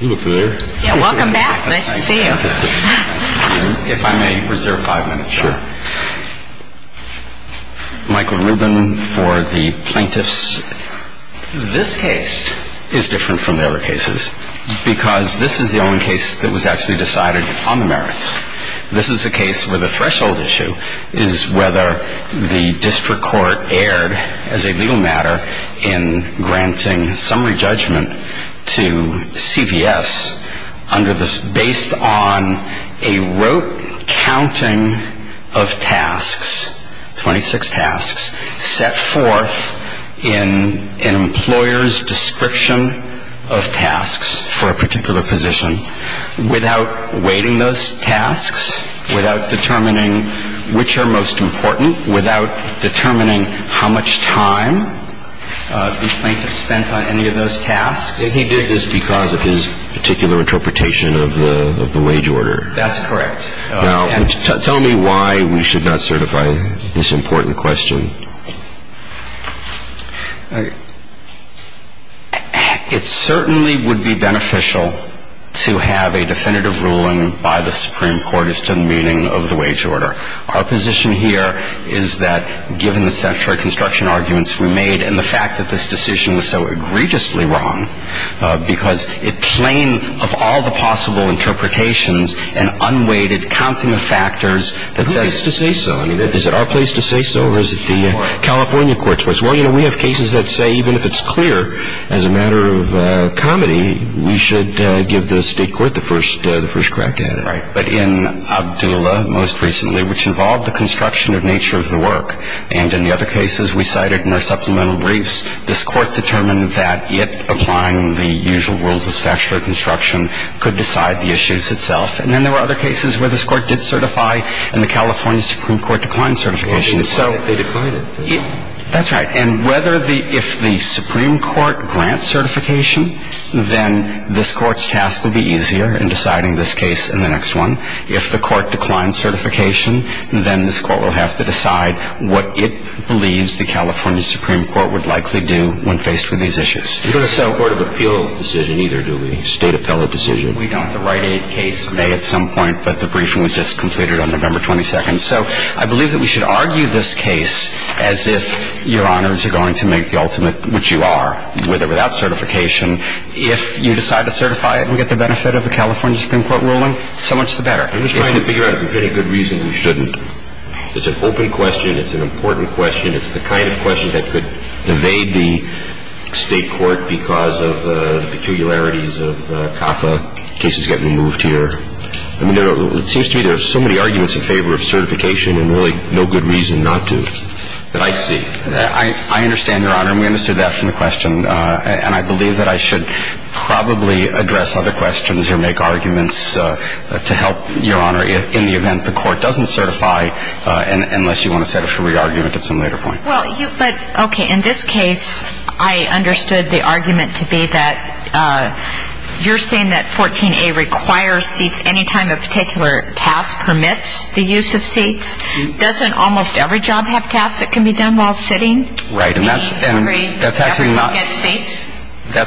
Welcome back. Nice to see you. If I may reserve five minutes. Sure. Michael Rubin for the plaintiffs. This case is different from the other cases because this is the only case that was actually decided on the merits. This is a case where the threshold issue is whether the district court erred as a legal matter in granting summary judgment to CVS based on a rote counting of tasks, 26 tasks, set forth in an employer's description of tasks for a particular position without weighting those tasks, without determining which are most important, without determining how much time the plaintiff spent on any of those tasks. He did this because of his particular interpretation of the wage order. That's correct. Now, tell me why we should not certify this important question. It certainly would be beneficial to have a definitive ruling by the Supreme Court as to the meaning of the wage order. Our position here is that given the statutory construction arguments we made and the fact that this decision was so egregiously wrong because it claimed of all the possible interpretations an unweighted counting of factors that says to say so. Who gets to say so? I mean, is it our place to say so or is it the California court's place? Well, you know, we have cases that say even if it's clear as a matter of comedy, we should give the state court the first crack at it. Right. But in Abdullah most recently, which involved the construction of nature of the work, and in the other cases we cited in our supplemental briefs, this Court determined that it, applying the usual rules of statutory construction, could decide the issues itself. And then there were other cases where this Court did certify and the California Supreme Court declined certification. Well, they declined it. They declined it. That's right. And whether the – if the Supreme Court grants certification, then this Court's task will be easier in deciding this case and the next one. If the Court declines certification, then this Court will have to decide what it believes the California Supreme Court would likely do when faced with these issues. We don't have a court of appeal decision either, do we? State appellate decision. We don't. The Rite-Aid case may at some point, but the briefing was just completed on November 22nd. So I believe that we should argue this case as if Your Honors are going to make the ultimate, which you are, with or without certification. If you decide to certify it and get the benefit of a California Supreme Court ruling, so much the better. I'm just trying to figure out if there's any good reason we shouldn't. It's an open question. It's an important question. It's the kind of question that could evade the State court because of the peculiarities of CAFA cases getting moved here. I mean, it seems to me there are so many arguments in favor of certification and really no good reason not to that I see. I understand, Your Honor. And we understood that from the question. And I believe that I should probably address other questions or make arguments to help Your Honor in the event the court doesn't certify, unless you want to set up for re-argument at some later point. But, okay, in this case, I understood the argument to be that you're saying that 14A requires seats any time a particular task permits the use of seats. Doesn't almost every job have tasks that can be done while sitting? Right. And that's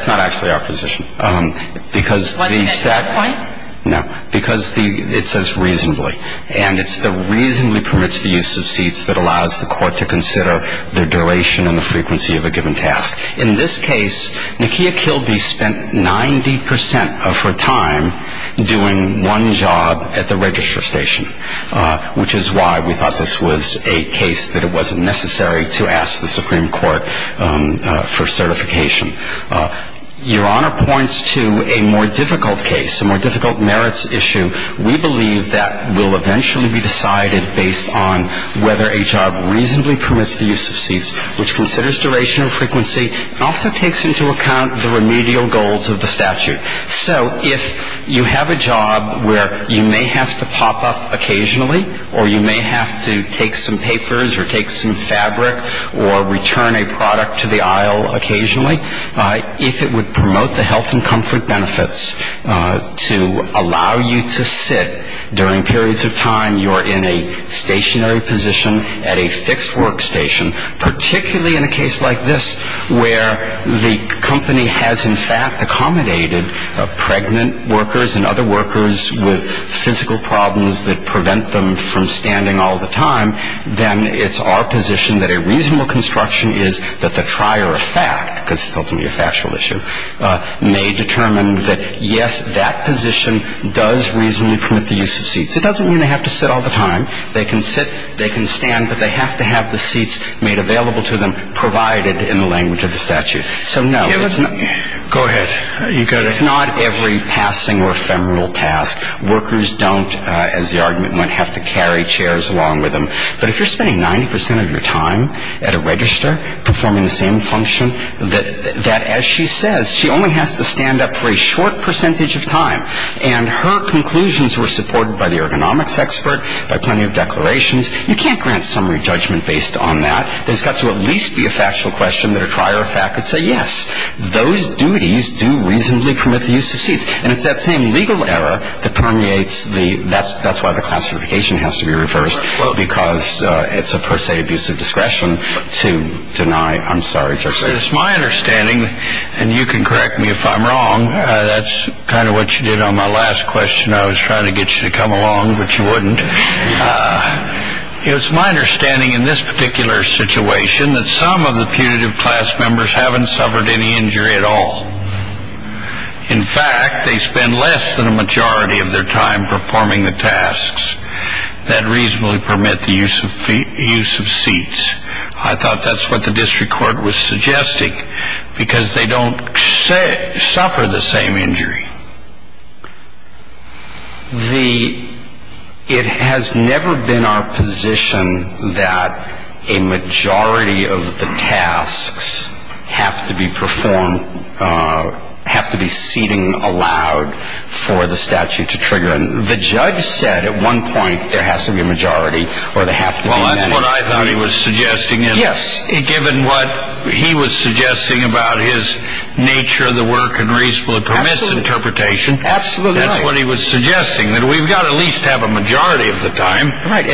not actually our position. Was it at that point? No. Because it says reasonably. And it's the reasonably permits the use of seats that allows the court to consider the duration and the frequency of a given task. In this case, Nakia Kilby spent 90 percent of her time doing one job at the register station, which is why we thought this was a case that it wasn't necessary to ask the Supreme Court for certification. Your Honor points to a more difficult case, a more difficult merits issue. We believe that will eventually be decided based on whether a job reasonably permits the use of seats, which considers duration and frequency, and also takes into account the remedial goals of the statute. Right. So if you have a job where you may have to pop up occasionally or you may have to take some papers or take some fabric or return a product to the aisle occasionally, if it would promote the health and comfort benefits to allow you to sit during periods of time, you're in a stationary position at a fixed workstation, particularly in a case like this where the company has, in fact, accommodated pregnant workers and other workers with physical problems that prevent them from standing all the time, then it's our position that a reasonable construction is that the trier of fact, because it's ultimately a factual issue, may determine that, yes, that position does reasonably permit the use of seats. It doesn't mean they have to sit all the time. They can sit. They can stand. But they have to have the seats made available to them, provided in the language of the statute. So, no, it's not. Go ahead. You go ahead. It's not every passing or ephemeral task. Workers don't, as the argument went, have to carry chairs along with them. But if you're spending 90 percent of your time at a register performing the same function, that as she says, she only has to stand up for a short percentage of time. And her conclusions were supported by the ergonomics expert, by plenty of declarations. You can't grant summary judgment based on that. There's got to at least be a factual question that a trier of fact would say, yes, those duties do reasonably permit the use of seats. And it's that same legal error that permeates the ‑‑ that's why the classification has to be reversed, because it's a per se abuse of discretion to deny ‑‑ I'm sorry, Justice. It's my understanding, and you can correct me if I'm wrong, that's kind of what you did on my last question. I was trying to get you to come along, but you wouldn't. It's my understanding in this particular situation that some of the putative class members haven't suffered any injury at all. In fact, they spend less than a majority of their time performing the tasks that reasonably permit the use of seats. I thought that's what the district court was suggesting, because they don't suffer the same injury. The ‑‑ it has never been our position that a majority of the tasks have to be performed, have to be seating allowed for the statute to trigger. The judge said at one point there has to be a majority or there has to be many. Well, that's what I thought he was suggesting. Yes. Given what he was suggesting about his nature of the work and reasonably permits interpretation. Absolutely right. That's what he was suggesting, that we've got to at least have a majority of the time. Right.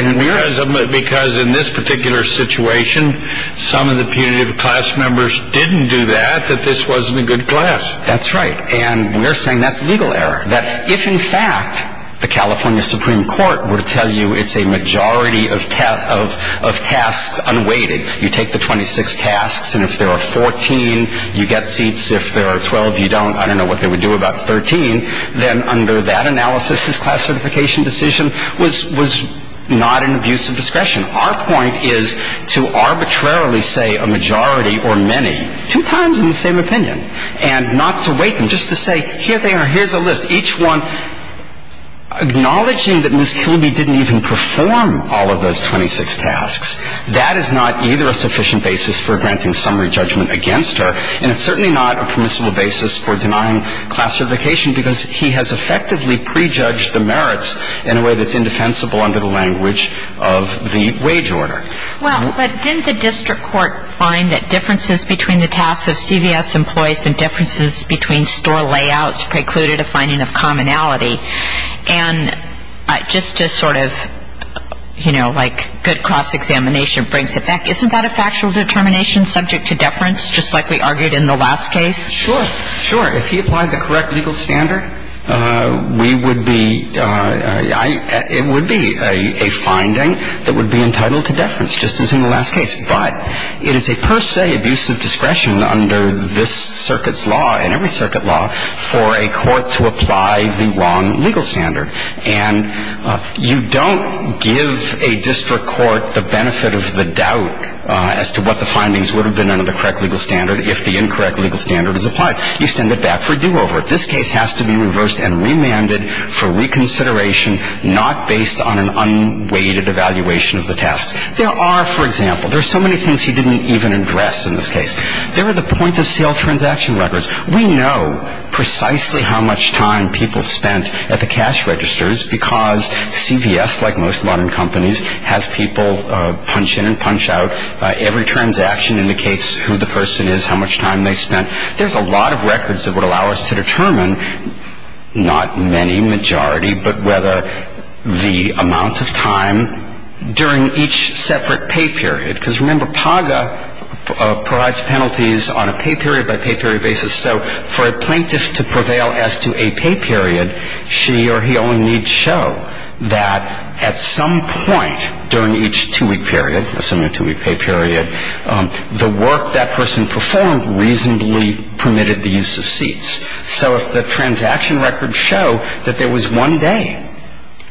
Because in this particular situation, some of the putative class members didn't do that, that this wasn't a good class. That's right, and we're saying that's legal error. That if, in fact, the California Supreme Court were to tell you it's a majority of tasks unweighted, you take the 26 tasks, and if there are 14, you get seats. If there are 12, you don't. I don't know what they would do about 13. Then under that analysis, this class certification decision was not an abuse of discretion. Our point is to arbitrarily say a majority or many, two times in the same opinion, and not to weight them, just to say, here they are, here's a list, each one, acknowledging that Ms. Kilby didn't even perform all of those 26 tasks, that is not either a sufficient basis for granting summary judgment against her, and it's certainly not a permissible basis for denying class certification, because he has effectively prejudged the merits in a way that's indefensible under the language of the wage order. Well, but didn't the district court find that differences between the tasks of CVS employees and differences between store layouts precluded a finding of commonality? And just to sort of, you know, like good cross-examination brings it back, isn't that a factual determination subject to deference, just like we argued in the last case? Sure, sure. If he applied the correct legal standard, we would be, it would be a finding that would be entitled to deference, just as in the last case. But it is a per se abuse of discretion under this circuit's law and every circuit law for a court to apply the wrong legal standard. And you don't give a district court the benefit of the doubt as to what the findings would have been under the correct legal standard if the incorrect legal standard is applied. You send it back for a do-over. This case has to be reversed and remanded for reconsideration, not based on an unweighted evaluation of the tasks. There are, for example, there are so many things he didn't even address in this case. There are the point-of-sale transaction records. We know precisely how much time people spent at the cash registers, because CVS, like most modern companies, has people punch in and punch out. Every transaction indicates who the person is, how much time they spent. There's a lot of records that would allow us to determine, not many, majority, but whether the amount of time during each separate pay period, because remember, PAGA provides penalties on a pay period by pay period basis. So for a plaintiff to prevail as to a pay period, she or he only needs to show that at some point during each two-week period, assuming a two-week pay period, the work that person performed reasonably permitted the use of seats. So if the transaction records show that there was one day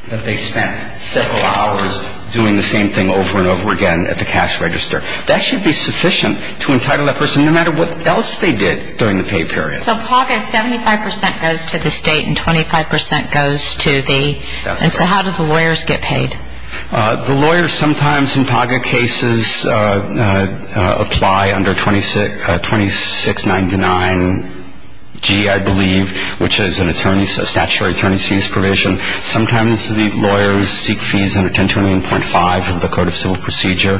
that they spent several hours doing the same thing over and over again at the cash register, that should be sufficient to entitle that person, no matter what else they did during the pay period. So PAGA, 75 percent goes to the State and 25 percent goes to the — That's correct. And so how do the lawyers get paid? The lawyers sometimes in PAGA cases apply under 2699G, I believe, which is a statutory attorney's fees provision. Sometimes the lawyers seek fees under 1029.5 of the Code of Civil Procedure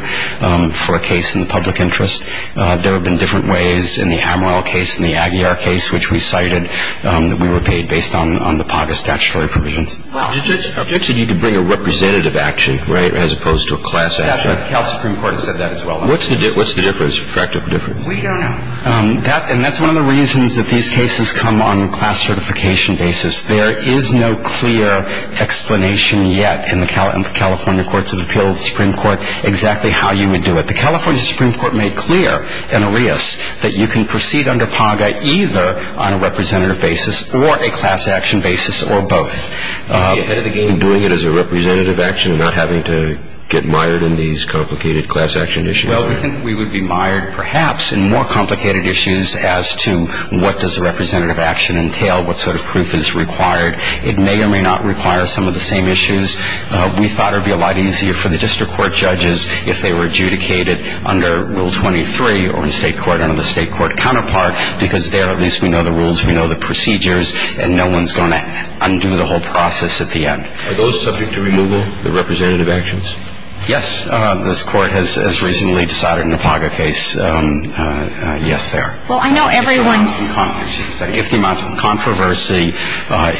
for a case in the public interest. There have been different ways in the Ham Oil case and the Aguiar case, which we cited that we were paid based on the PAGA statutory provisions. Your judge said you could bring a representative action, right, as opposed to a class action. That's right. The California Supreme Court has said that as well. What's the difference? Correct or different? We don't know. And that's one of the reasons that these cases come on class certification basis. There is no clear explanation yet in the California Courts of Appeal, the Supreme Court, exactly how you would do it. The California Supreme Court made clear in Arias that you can proceed under PAGA either on a representative basis or a class action basis or both. Would you be ahead of the game in doing it as a representative action and not having to get mired in these complicated class action issues? Well, we think that we would be mired perhaps in more complicated issues as to what does a representative action entail, what sort of proof is required. It may or may not require some of the same issues. We thought it would be a lot easier for the district court judges if they were adjudicated under Rule 23 or in state court under the state court counterpart because there at least we know the rules, we know the procedures, and no one's going to undo the whole process at the end. Are those subject to removal, the representative actions? Yes. This court has recently decided in the PAGA case yes there. Well, I know everyone's – If the amount of controversy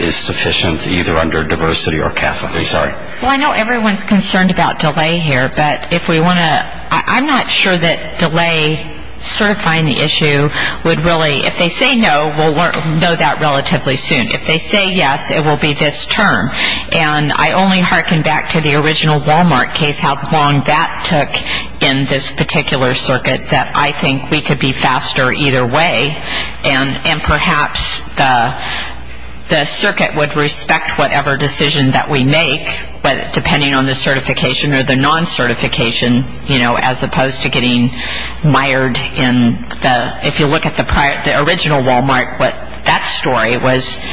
is sufficient either under diversity or Catholic, I'm sorry. Well, I know everyone's concerned about delay here, but if we want to – I'm not sure that delay certifying the issue would really – if they say no, we'll know that relatively soon. If they say yes, it will be this term. And I only hearken back to the original Walmart case, how long that took in this particular circuit that I think we could be faster either way. And perhaps the circuit would respect whatever decision that we make, depending on the certification or the non-certification, as opposed to getting mired in the – if you look at the original Walmart, what that story was –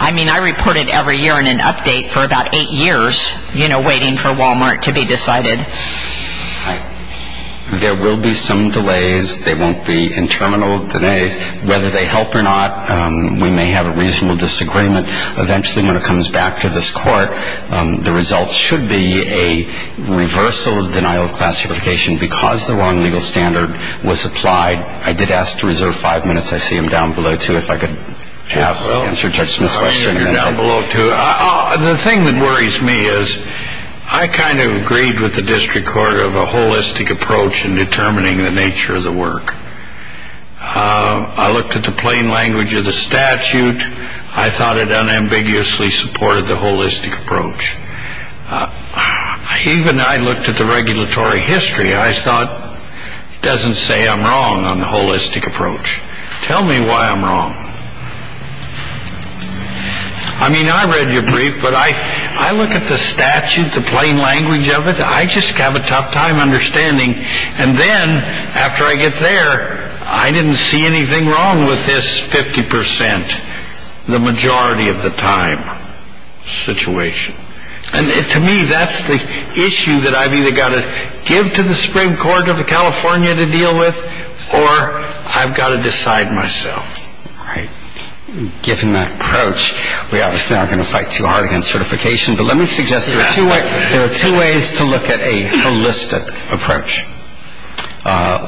I mean, I reported every year in an update for about eight years waiting for Walmart to be decided. There will be some delays. They won't be interminable delays. Whether they help or not, we may have a reasonable disagreement. Eventually, when it comes back to this court, the result should be a reversal of denial of class certification because the wrong legal standard was applied. I did ask to reserve five minutes. I see I'm down below, too, if I could answer Judge Smith's question. You're down below, too. The thing that worries me is I kind of agreed with the district court of a holistic approach in determining the nature of the work. I looked at the plain language of the statute. I thought it unambiguously supported the holistic approach. Even I looked at the regulatory history. I thought it doesn't say I'm wrong on the holistic approach. Tell me why I'm wrong. I mean, I read your brief, but I look at the statute, the plain language of it. I just have a tough time understanding. And then after I get there, I didn't see anything wrong with this 50 percent, the majority of the time situation. And to me, that's the issue that I've either got to give to the Supreme Court of California to deal with or I've got to decide myself. All right. Given that approach, we obviously aren't going to fight too hard against certification. But let me suggest there are two ways to look at a holistic approach.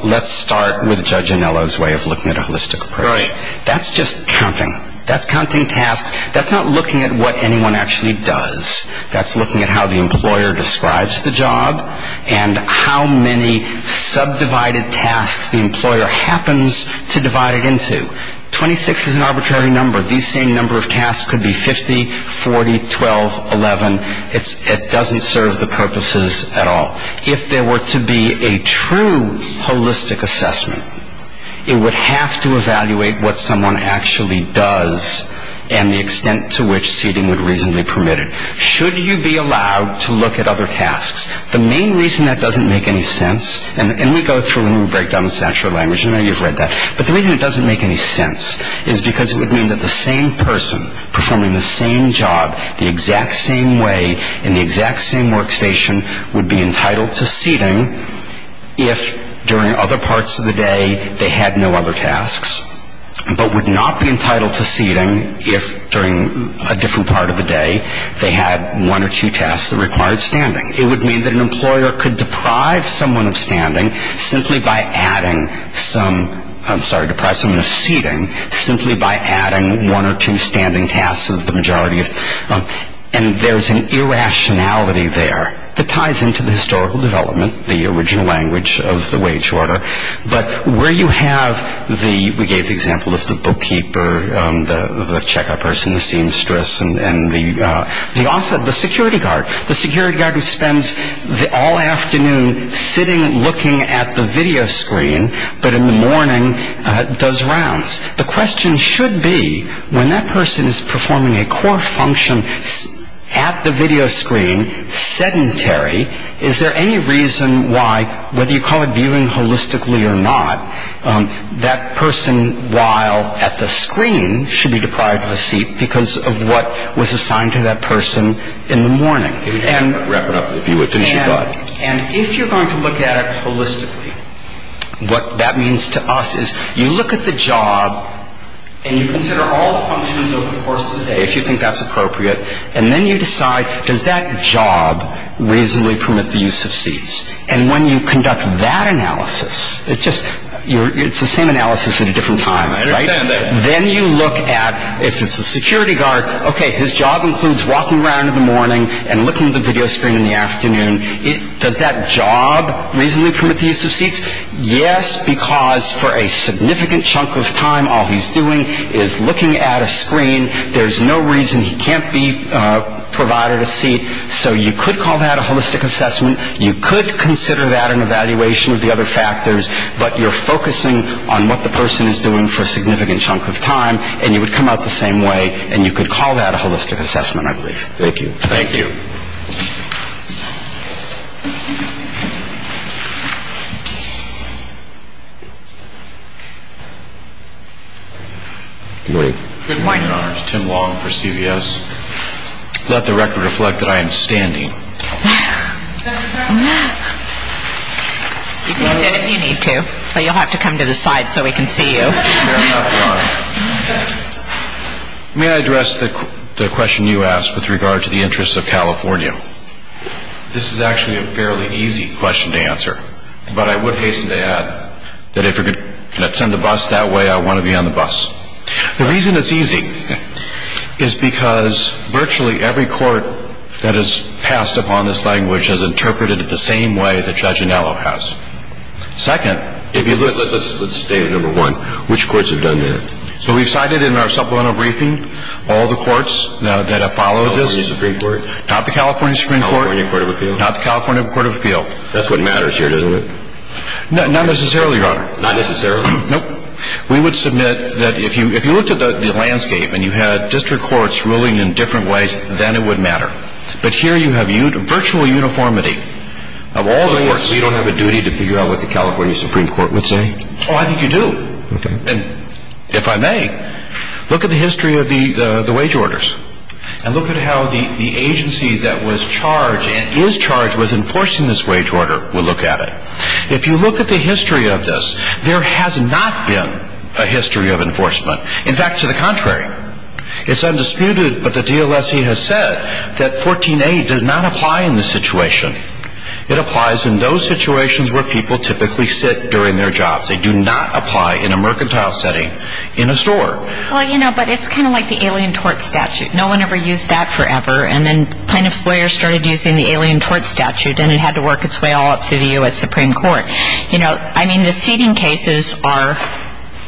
Let's start with Judge Anello's way of looking at a holistic approach. Right. That's just counting. That's counting tasks. That's not looking at what anyone actually does. That's looking at how the employer describes the job and how many subdivided tasks the employer happens to divide it into. Twenty-six is an arbitrary number. These same number of tasks could be 50, 40, 12, 11. It doesn't serve the purposes at all. If there were to be a true holistic assessment, it would have to evaluate what someone actually does and the extent to which seating would reasonably permit it. Should you be allowed to look at other tasks? The main reason that doesn't make any sense, and we go through and we break down this actual language. I know you've read that. But the reason it doesn't make any sense is because it would mean that the same person performing the same job the exact same way in the exact same workstation would be entitled to seating if during other parts of the day they had no other tasks, but would not be entitled to seating if during a different part of the day they had one or two tasks that required standing. It would mean that an employer could deprive someone of standing simply by adding some ‑‑ I'm sorry, deprive someone of seating simply by adding one or two standing tasks of the majority. And there's an irrationality there that ties into the historical development, the original language of the wage order. But where you have the, we gave the example of the bookkeeper, the checkup person, the seamstress, and the security guard. The security guard who spends all afternoon sitting looking at the video screen, but in the morning does rounds. The question should be when that person is performing a core function at the video screen, sedentary, is there any reason why, whether you call it viewing holistically or not, that person while at the screen should be deprived of a seat because of what was assigned to that person in the morning. Wrap it up if you would. Finish your thought. And if you're going to look at it holistically, what that means to us is you look at the job and you consider all functions over the course of the day, if you think that's appropriate, and then you decide does that job reasonably permit the use of seats. And when you conduct that analysis, it's the same analysis at a different time, right? Then you look at if it's the security guard, okay, his job includes walking around in the morning and looking at the video screen in the afternoon, does that job reasonably permit the use of seats? Yes, because for a significant chunk of time all he's doing is looking at a screen. There's no reason he can't be provided a seat. So you could call that a holistic assessment. You could consider that an evaluation of the other factors, but you're focusing on what the person is doing for a significant chunk of time, and you would come out the same way, and you could call that a holistic assessment, I believe. Thank you. Thank you. Good morning. Good morning, Your Honors. Tim Long for CVS. Let the record reflect that I am standing. You can sit if you need to, but you'll have to come to the side so we can see you. Fair enough, Your Honor. May I address the question you asked with regard to the interests of California? This is actually a fairly easy question to answer, but I would hasten to add that if you're going to attend the bus that way, I want to be on the bus. The reason it's easy is because virtually every court that has passed upon this language has interpreted it the same way that Judge Anello has. Second, if you look at the state of number one, which courts have done that? So we've cited in our supplemental briefing all the courts that have followed this. California Supreme Court? Not the California Supreme Court. California Court of Appeal? Not the California Court of Appeal. That's what matters here, isn't it? Not necessarily, Your Honor. Not necessarily? Nope. We would submit that if you looked at the landscape and you had district courts ruling in different ways, then it would matter. But here you have virtual uniformity of all the courts. So you don't have a duty to figure out what the California Supreme Court would say? Oh, I think you do. Okay. And if I may, look at the history of the wage orders and look at how the agency that was charged and is charged with enforcing this wage order will look at it. If you look at the history of this, there has not been a history of enforcement. In fact, to the contrary. It's undisputed, but the DLSE has said that 14A does not apply in this situation. It applies in those situations where people typically sit during their jobs. They do not apply in a mercantile setting in a store. Well, you know, but it's kind of like the Alien Tort Statute. No one ever used that forever. And then plaintiff's lawyers started using the Alien Tort Statute, and it had to work its way all up through the U.S. Supreme Court. You know, I mean, the seating cases are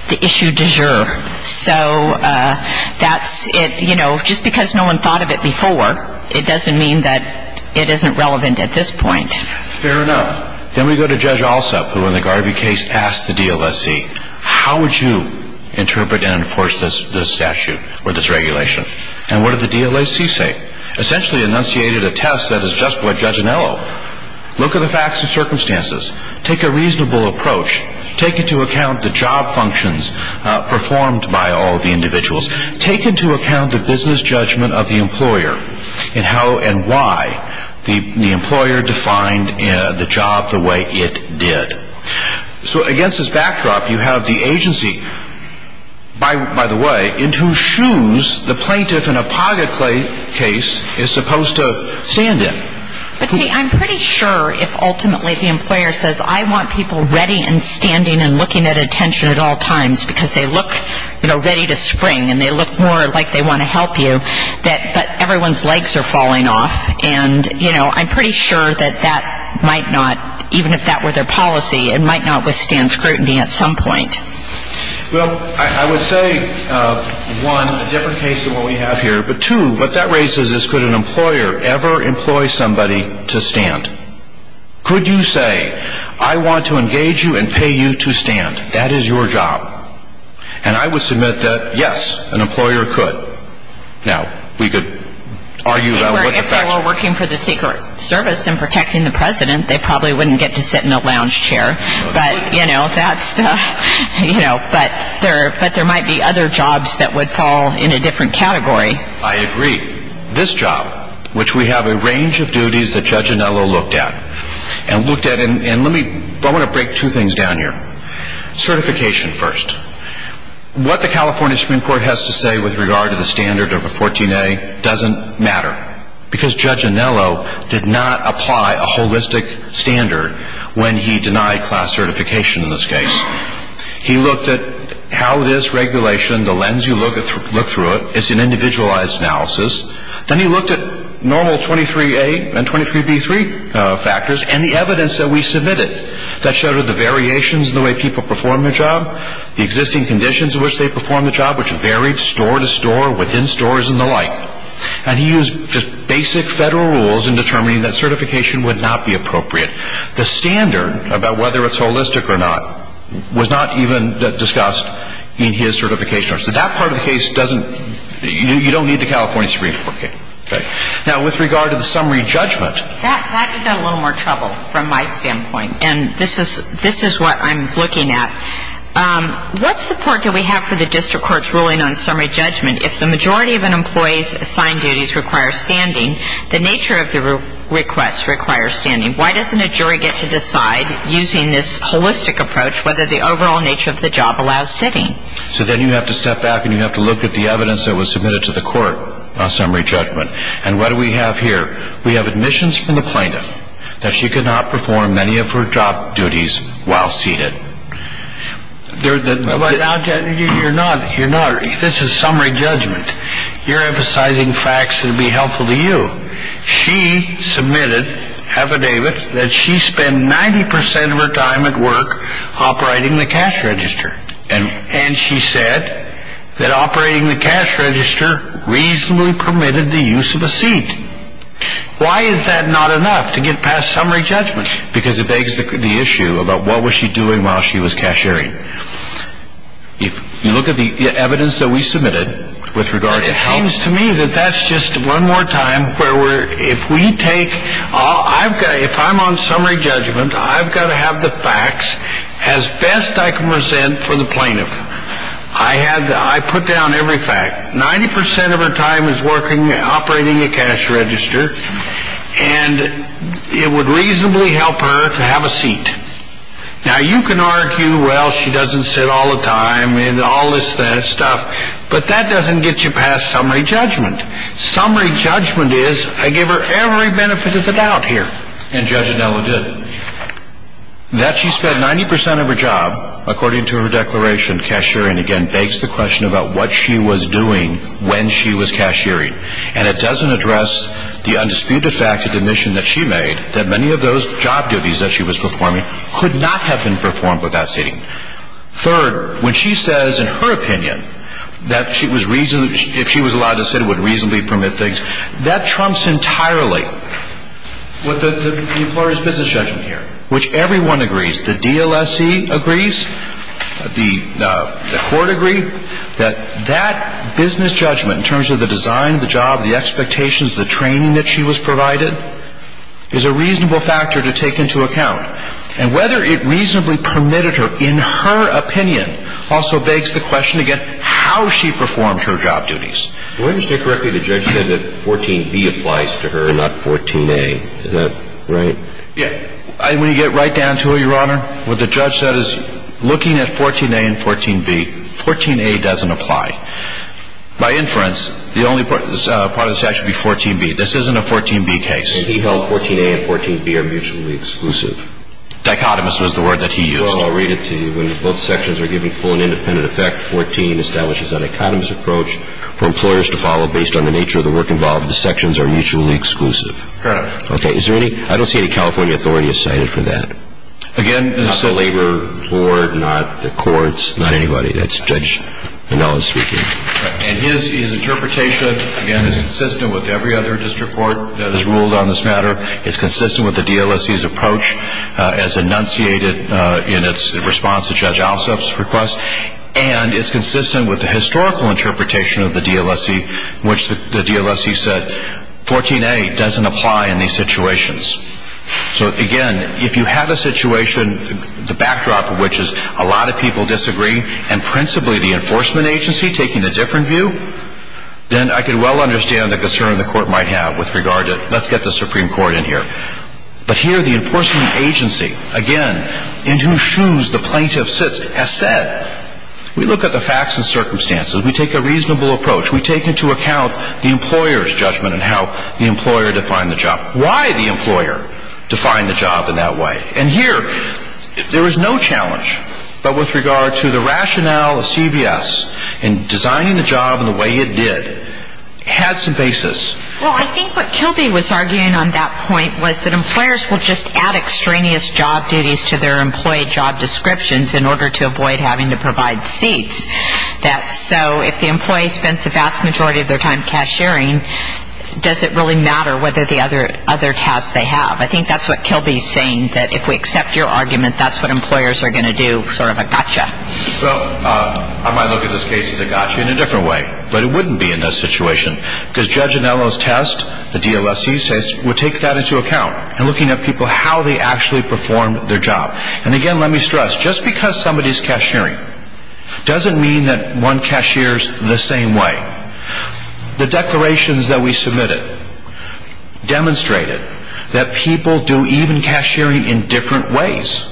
the issue du jour. So that's it. You know, just because no one thought of it before, it doesn't mean that it isn't relevant at this point. Fair enough. Then we go to Judge Alsup, who in the Garvey case asked the DLSE, how would you interpret and enforce this statute or this regulation? And what did the DLSE say? Essentially enunciated a test that is just what Judge Anello. Look at the facts and circumstances. Take a reasonable approach. Take into account the job functions performed by all of the individuals. Take into account the business judgment of the employer and how and why the employer defined the job the way it did. So against this backdrop, you have the agency, by the way, in whose shoes the plaintiff in a Paga case is supposed to stand in. But see, I'm pretty sure if ultimately the employer says, I want people ready and standing and looking at attention at all times because they look, you know, ready to spring and they look more like they want to help you, that everyone's legs are falling off. And, you know, I'm pretty sure that that might not, even if that were their policy, it might not withstand scrutiny at some point. Well, I would say, one, a different case than what we have here. But two, what that raises is could an employer ever employ somebody to stand? Could you say, I want to engage you and pay you to stand? That is your job. And I would submit that, yes, an employer could. Now, we could argue about what the facts are. If they were working for the Secret Service and protecting the president, they probably wouldn't get to sit in a lounge chair. But, you know, that's the, you know, but there might be other jobs that would fall in a different category. I agree. This job, which we have a range of duties that Judge Anello looked at, and looked at, and let me, I want to break two things down here. Certification first. What the California Supreme Court has to say with regard to the standard of a 14A doesn't matter because Judge Anello did not apply a holistic standard when he denied class certification in this case. He looked at how this regulation, the lens you look through it, is an individualized analysis. Then he looked at normal 23A and 23B3 factors and the evidence that we submitted that showed the variations in the way people perform their job, the existing conditions in which they perform the job, which varied store to store, within stores, and the like. And he used just basic federal rules in determining that certification would not be appropriate. The standard about whether it's holistic or not was not even discussed in his certification. So that part of the case doesn't, you don't need the California Supreme Court case. Okay. Now, with regard to the summary judgment. That would be a little more trouble from my standpoint. And this is what I'm looking at. What support do we have for the district court's ruling on summary judgment if the majority of an employee's assigned duties require standing, the nature of the request requires standing? Why doesn't a jury get to decide, using this holistic approach, whether the overall nature of the job allows sitting? So then you have to step back and you have to look at the evidence that was submitted to the court on summary judgment. And what do we have here? We have admissions from the plaintiff that she could not perform many of her job duties while seated. You're not, this is summary judgment. You're emphasizing facts that would be helpful to you. She submitted affidavit that she spent 90% of her time at work operating the cash register. And she said that operating the cash register reasonably permitted the use of a seat. Why is that not enough to get past summary judgment? Because it begs the issue about what was she doing while she was cashiering. If you look at the evidence that we submitted with regard to health. It seems to me that that's just one more time where if we take, if I'm on summary judgment, I've got to have the facts as best I can present for the plaintiff. I put down every fact. 90% of her time is working, operating a cash register. And it would reasonably help her to have a seat. Now you can argue, well, she doesn't sit all the time and all this stuff. But that doesn't get you past summary judgment. Summary judgment is I gave her every benefit of the doubt here. And Judge Adello did. That she spent 90% of her job, according to her declaration, cashiering, again begs the question about what she was doing when she was cashiering. And it doesn't address the undisputed fact of the admission that she made that many of those job duties that she was performing could not have been performed without seating. Third, when she says in her opinion that if she was allowed to sit it would reasonably permit things, that trumps entirely what the employer's business judgment here, which everyone agrees, the DLSE agrees, the court agreed, that that business judgment in terms of the design of the job, the expectations, the training that she was provided, is a reasonable factor to take into account. And whether it reasonably permitted her, in her opinion, also begs the question, again, how she performed her job duties. If I understand correctly, the judge said that 14b applies to her and not 14a. Is that right? Yeah. When you get right down to it, Your Honor, what the judge said is looking at 14a and 14b, 14a doesn't apply. By inference, the only part of this act should be 14b. This isn't a 14b case. And he held 14a and 14b are mutually exclusive. Dichotomous was the word that he used. Well, I'll read it to you. When both sections are given full and independent effect, 14 establishes a dichotomous approach for employers to follow based on the nature of the work involved. The sections are mutually exclusive. Fair enough. Okay. Is there any, I don't see any California authorities cited for that. Again, not the labor board, not the courts, not anybody. That's Judge Manella speaking. And his interpretation, again, is consistent with every other district court that has ruled on this matter. It's consistent with the DLSC's approach as enunciated in its response to Judge Alsop's request. And it's consistent with the historical interpretation of the DLSC, which the DLSC said 14a doesn't apply in these situations. So, again, if you have a situation, the backdrop of which is a lot of people disagreeing, and principally the enforcement agency taking a different view, then I could well understand the concern the court might have with regard to, let's get the Supreme Court in here. But here the enforcement agency, again, in whose shoes the plaintiff sits, has said, we look at the facts and circumstances, we take a reasonable approach, we take into account the employer's judgment in how the employer defined the job. Why the employer defined the job in that way? And here there is no challenge, but with regard to the rationale of CVS in designing the job in the way it did had some basis. Well, I think what Kilby was arguing on that point was that employers will just add extraneous job duties to their employee job descriptions in order to avoid having to provide seats. So if the employee spends the vast majority of their time cashiering, does it really matter whether the other tasks they have? I think that's what Kilby is saying, that if we accept your argument, that's what employers are going to do, sort of a gotcha. Well, I might look at this case as a gotcha in a different way, but it wouldn't be in this situation, because Judge Anello's test, the DOSC's test, would take that into account, in looking at people, how they actually performed their job. And again, let me stress, just because somebody is cashiering doesn't mean that one cashiers the same way. The declarations that we submitted demonstrated that people do even cashiering in different ways.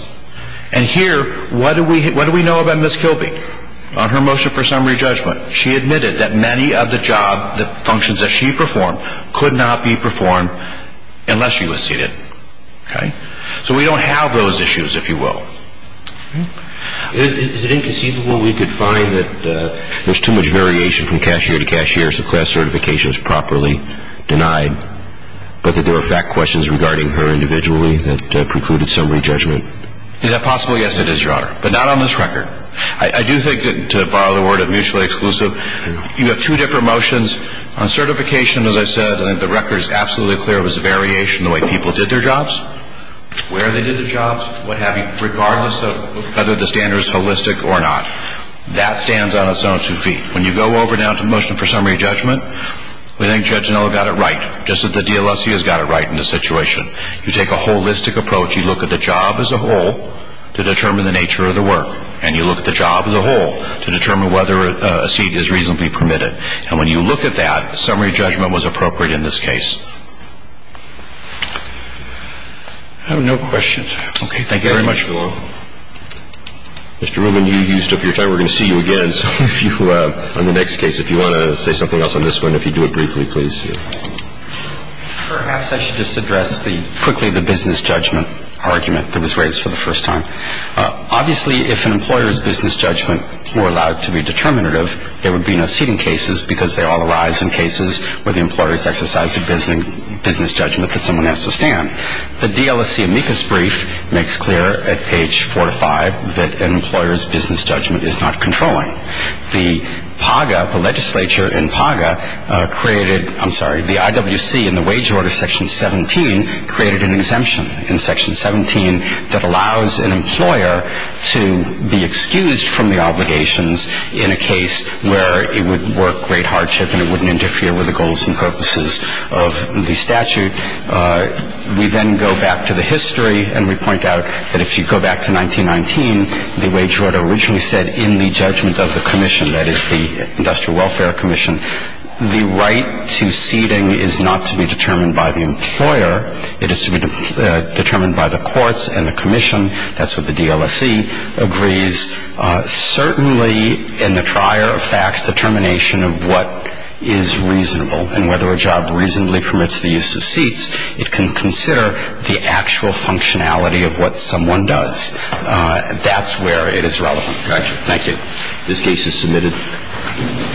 And here, what do we know about Ms. Kilby on her motion for summary judgment? She admitted that many of the job functions that she performed could not be performed unless she was seated. So we don't have those issues, if you will. Is it inconceivable we could find that there's too much variation from cashier to cashier, so class certification is properly denied, but that there were fact questions regarding her individually that precluded summary judgment? Is that possible? Yes, it is, Your Honor, but not on this record. I do think that, to borrow the word of Mutually Exclusive, you have two different motions. On certification, as I said, the record is absolutely clear. It was a variation in the way people did their jobs, where they did their jobs, what have you, regardless of whether the standard is holistic or not. That stands on its own two feet. When you go over now to the motion for summary judgment, we think Judge Noll got it right, just as the DLSC has got it right in this situation. You take a holistic approach. You look at the job as a whole to determine the nature of the work, and you look at the job as a whole to determine whether a seat is reasonably permitted. And when you look at that, summary judgment was appropriate in this case. I have no questions. Okay. Thank you very much, Your Honor. Mr. Rubin, you used up your time. We're going to see you again. So if you, on the next case, if you want to say something else on this one, if you'd do it briefly, please. Perhaps I should just address quickly the business judgment argument that was raised for the first time. Obviously, if an employer's business judgment were allowed to be determinative, there would be no seating cases because they all arise in cases where the employer has exercised a business judgment. But someone has to stand. The DLSC amicus brief makes clear at page four to five that an employer's business judgment is not controlling. The PAGA, the legislature in PAGA, created, I'm sorry, the IWC in the wage order section 17 created an exemption in section 17 that allows an employer to be excused from the obligations in a case where it would work great hardship and it wouldn't interfere with the goals and purposes of the statute. We then go back to the history, and we point out that if you go back to 1919, the wage order originally said in the judgment of the commission, that is, the Industrial Welfare Commission, the right to seating is not to be determined by the employer. It is to be determined by the courts and the commission. That's what the DLSC agrees. Certainly in the trier of facts, determination of what is reasonable and whether a job reasonably permits the use of seats, it can consider the actual functionality of what someone does. That's where it is relevant. Thank you. This case is submitted.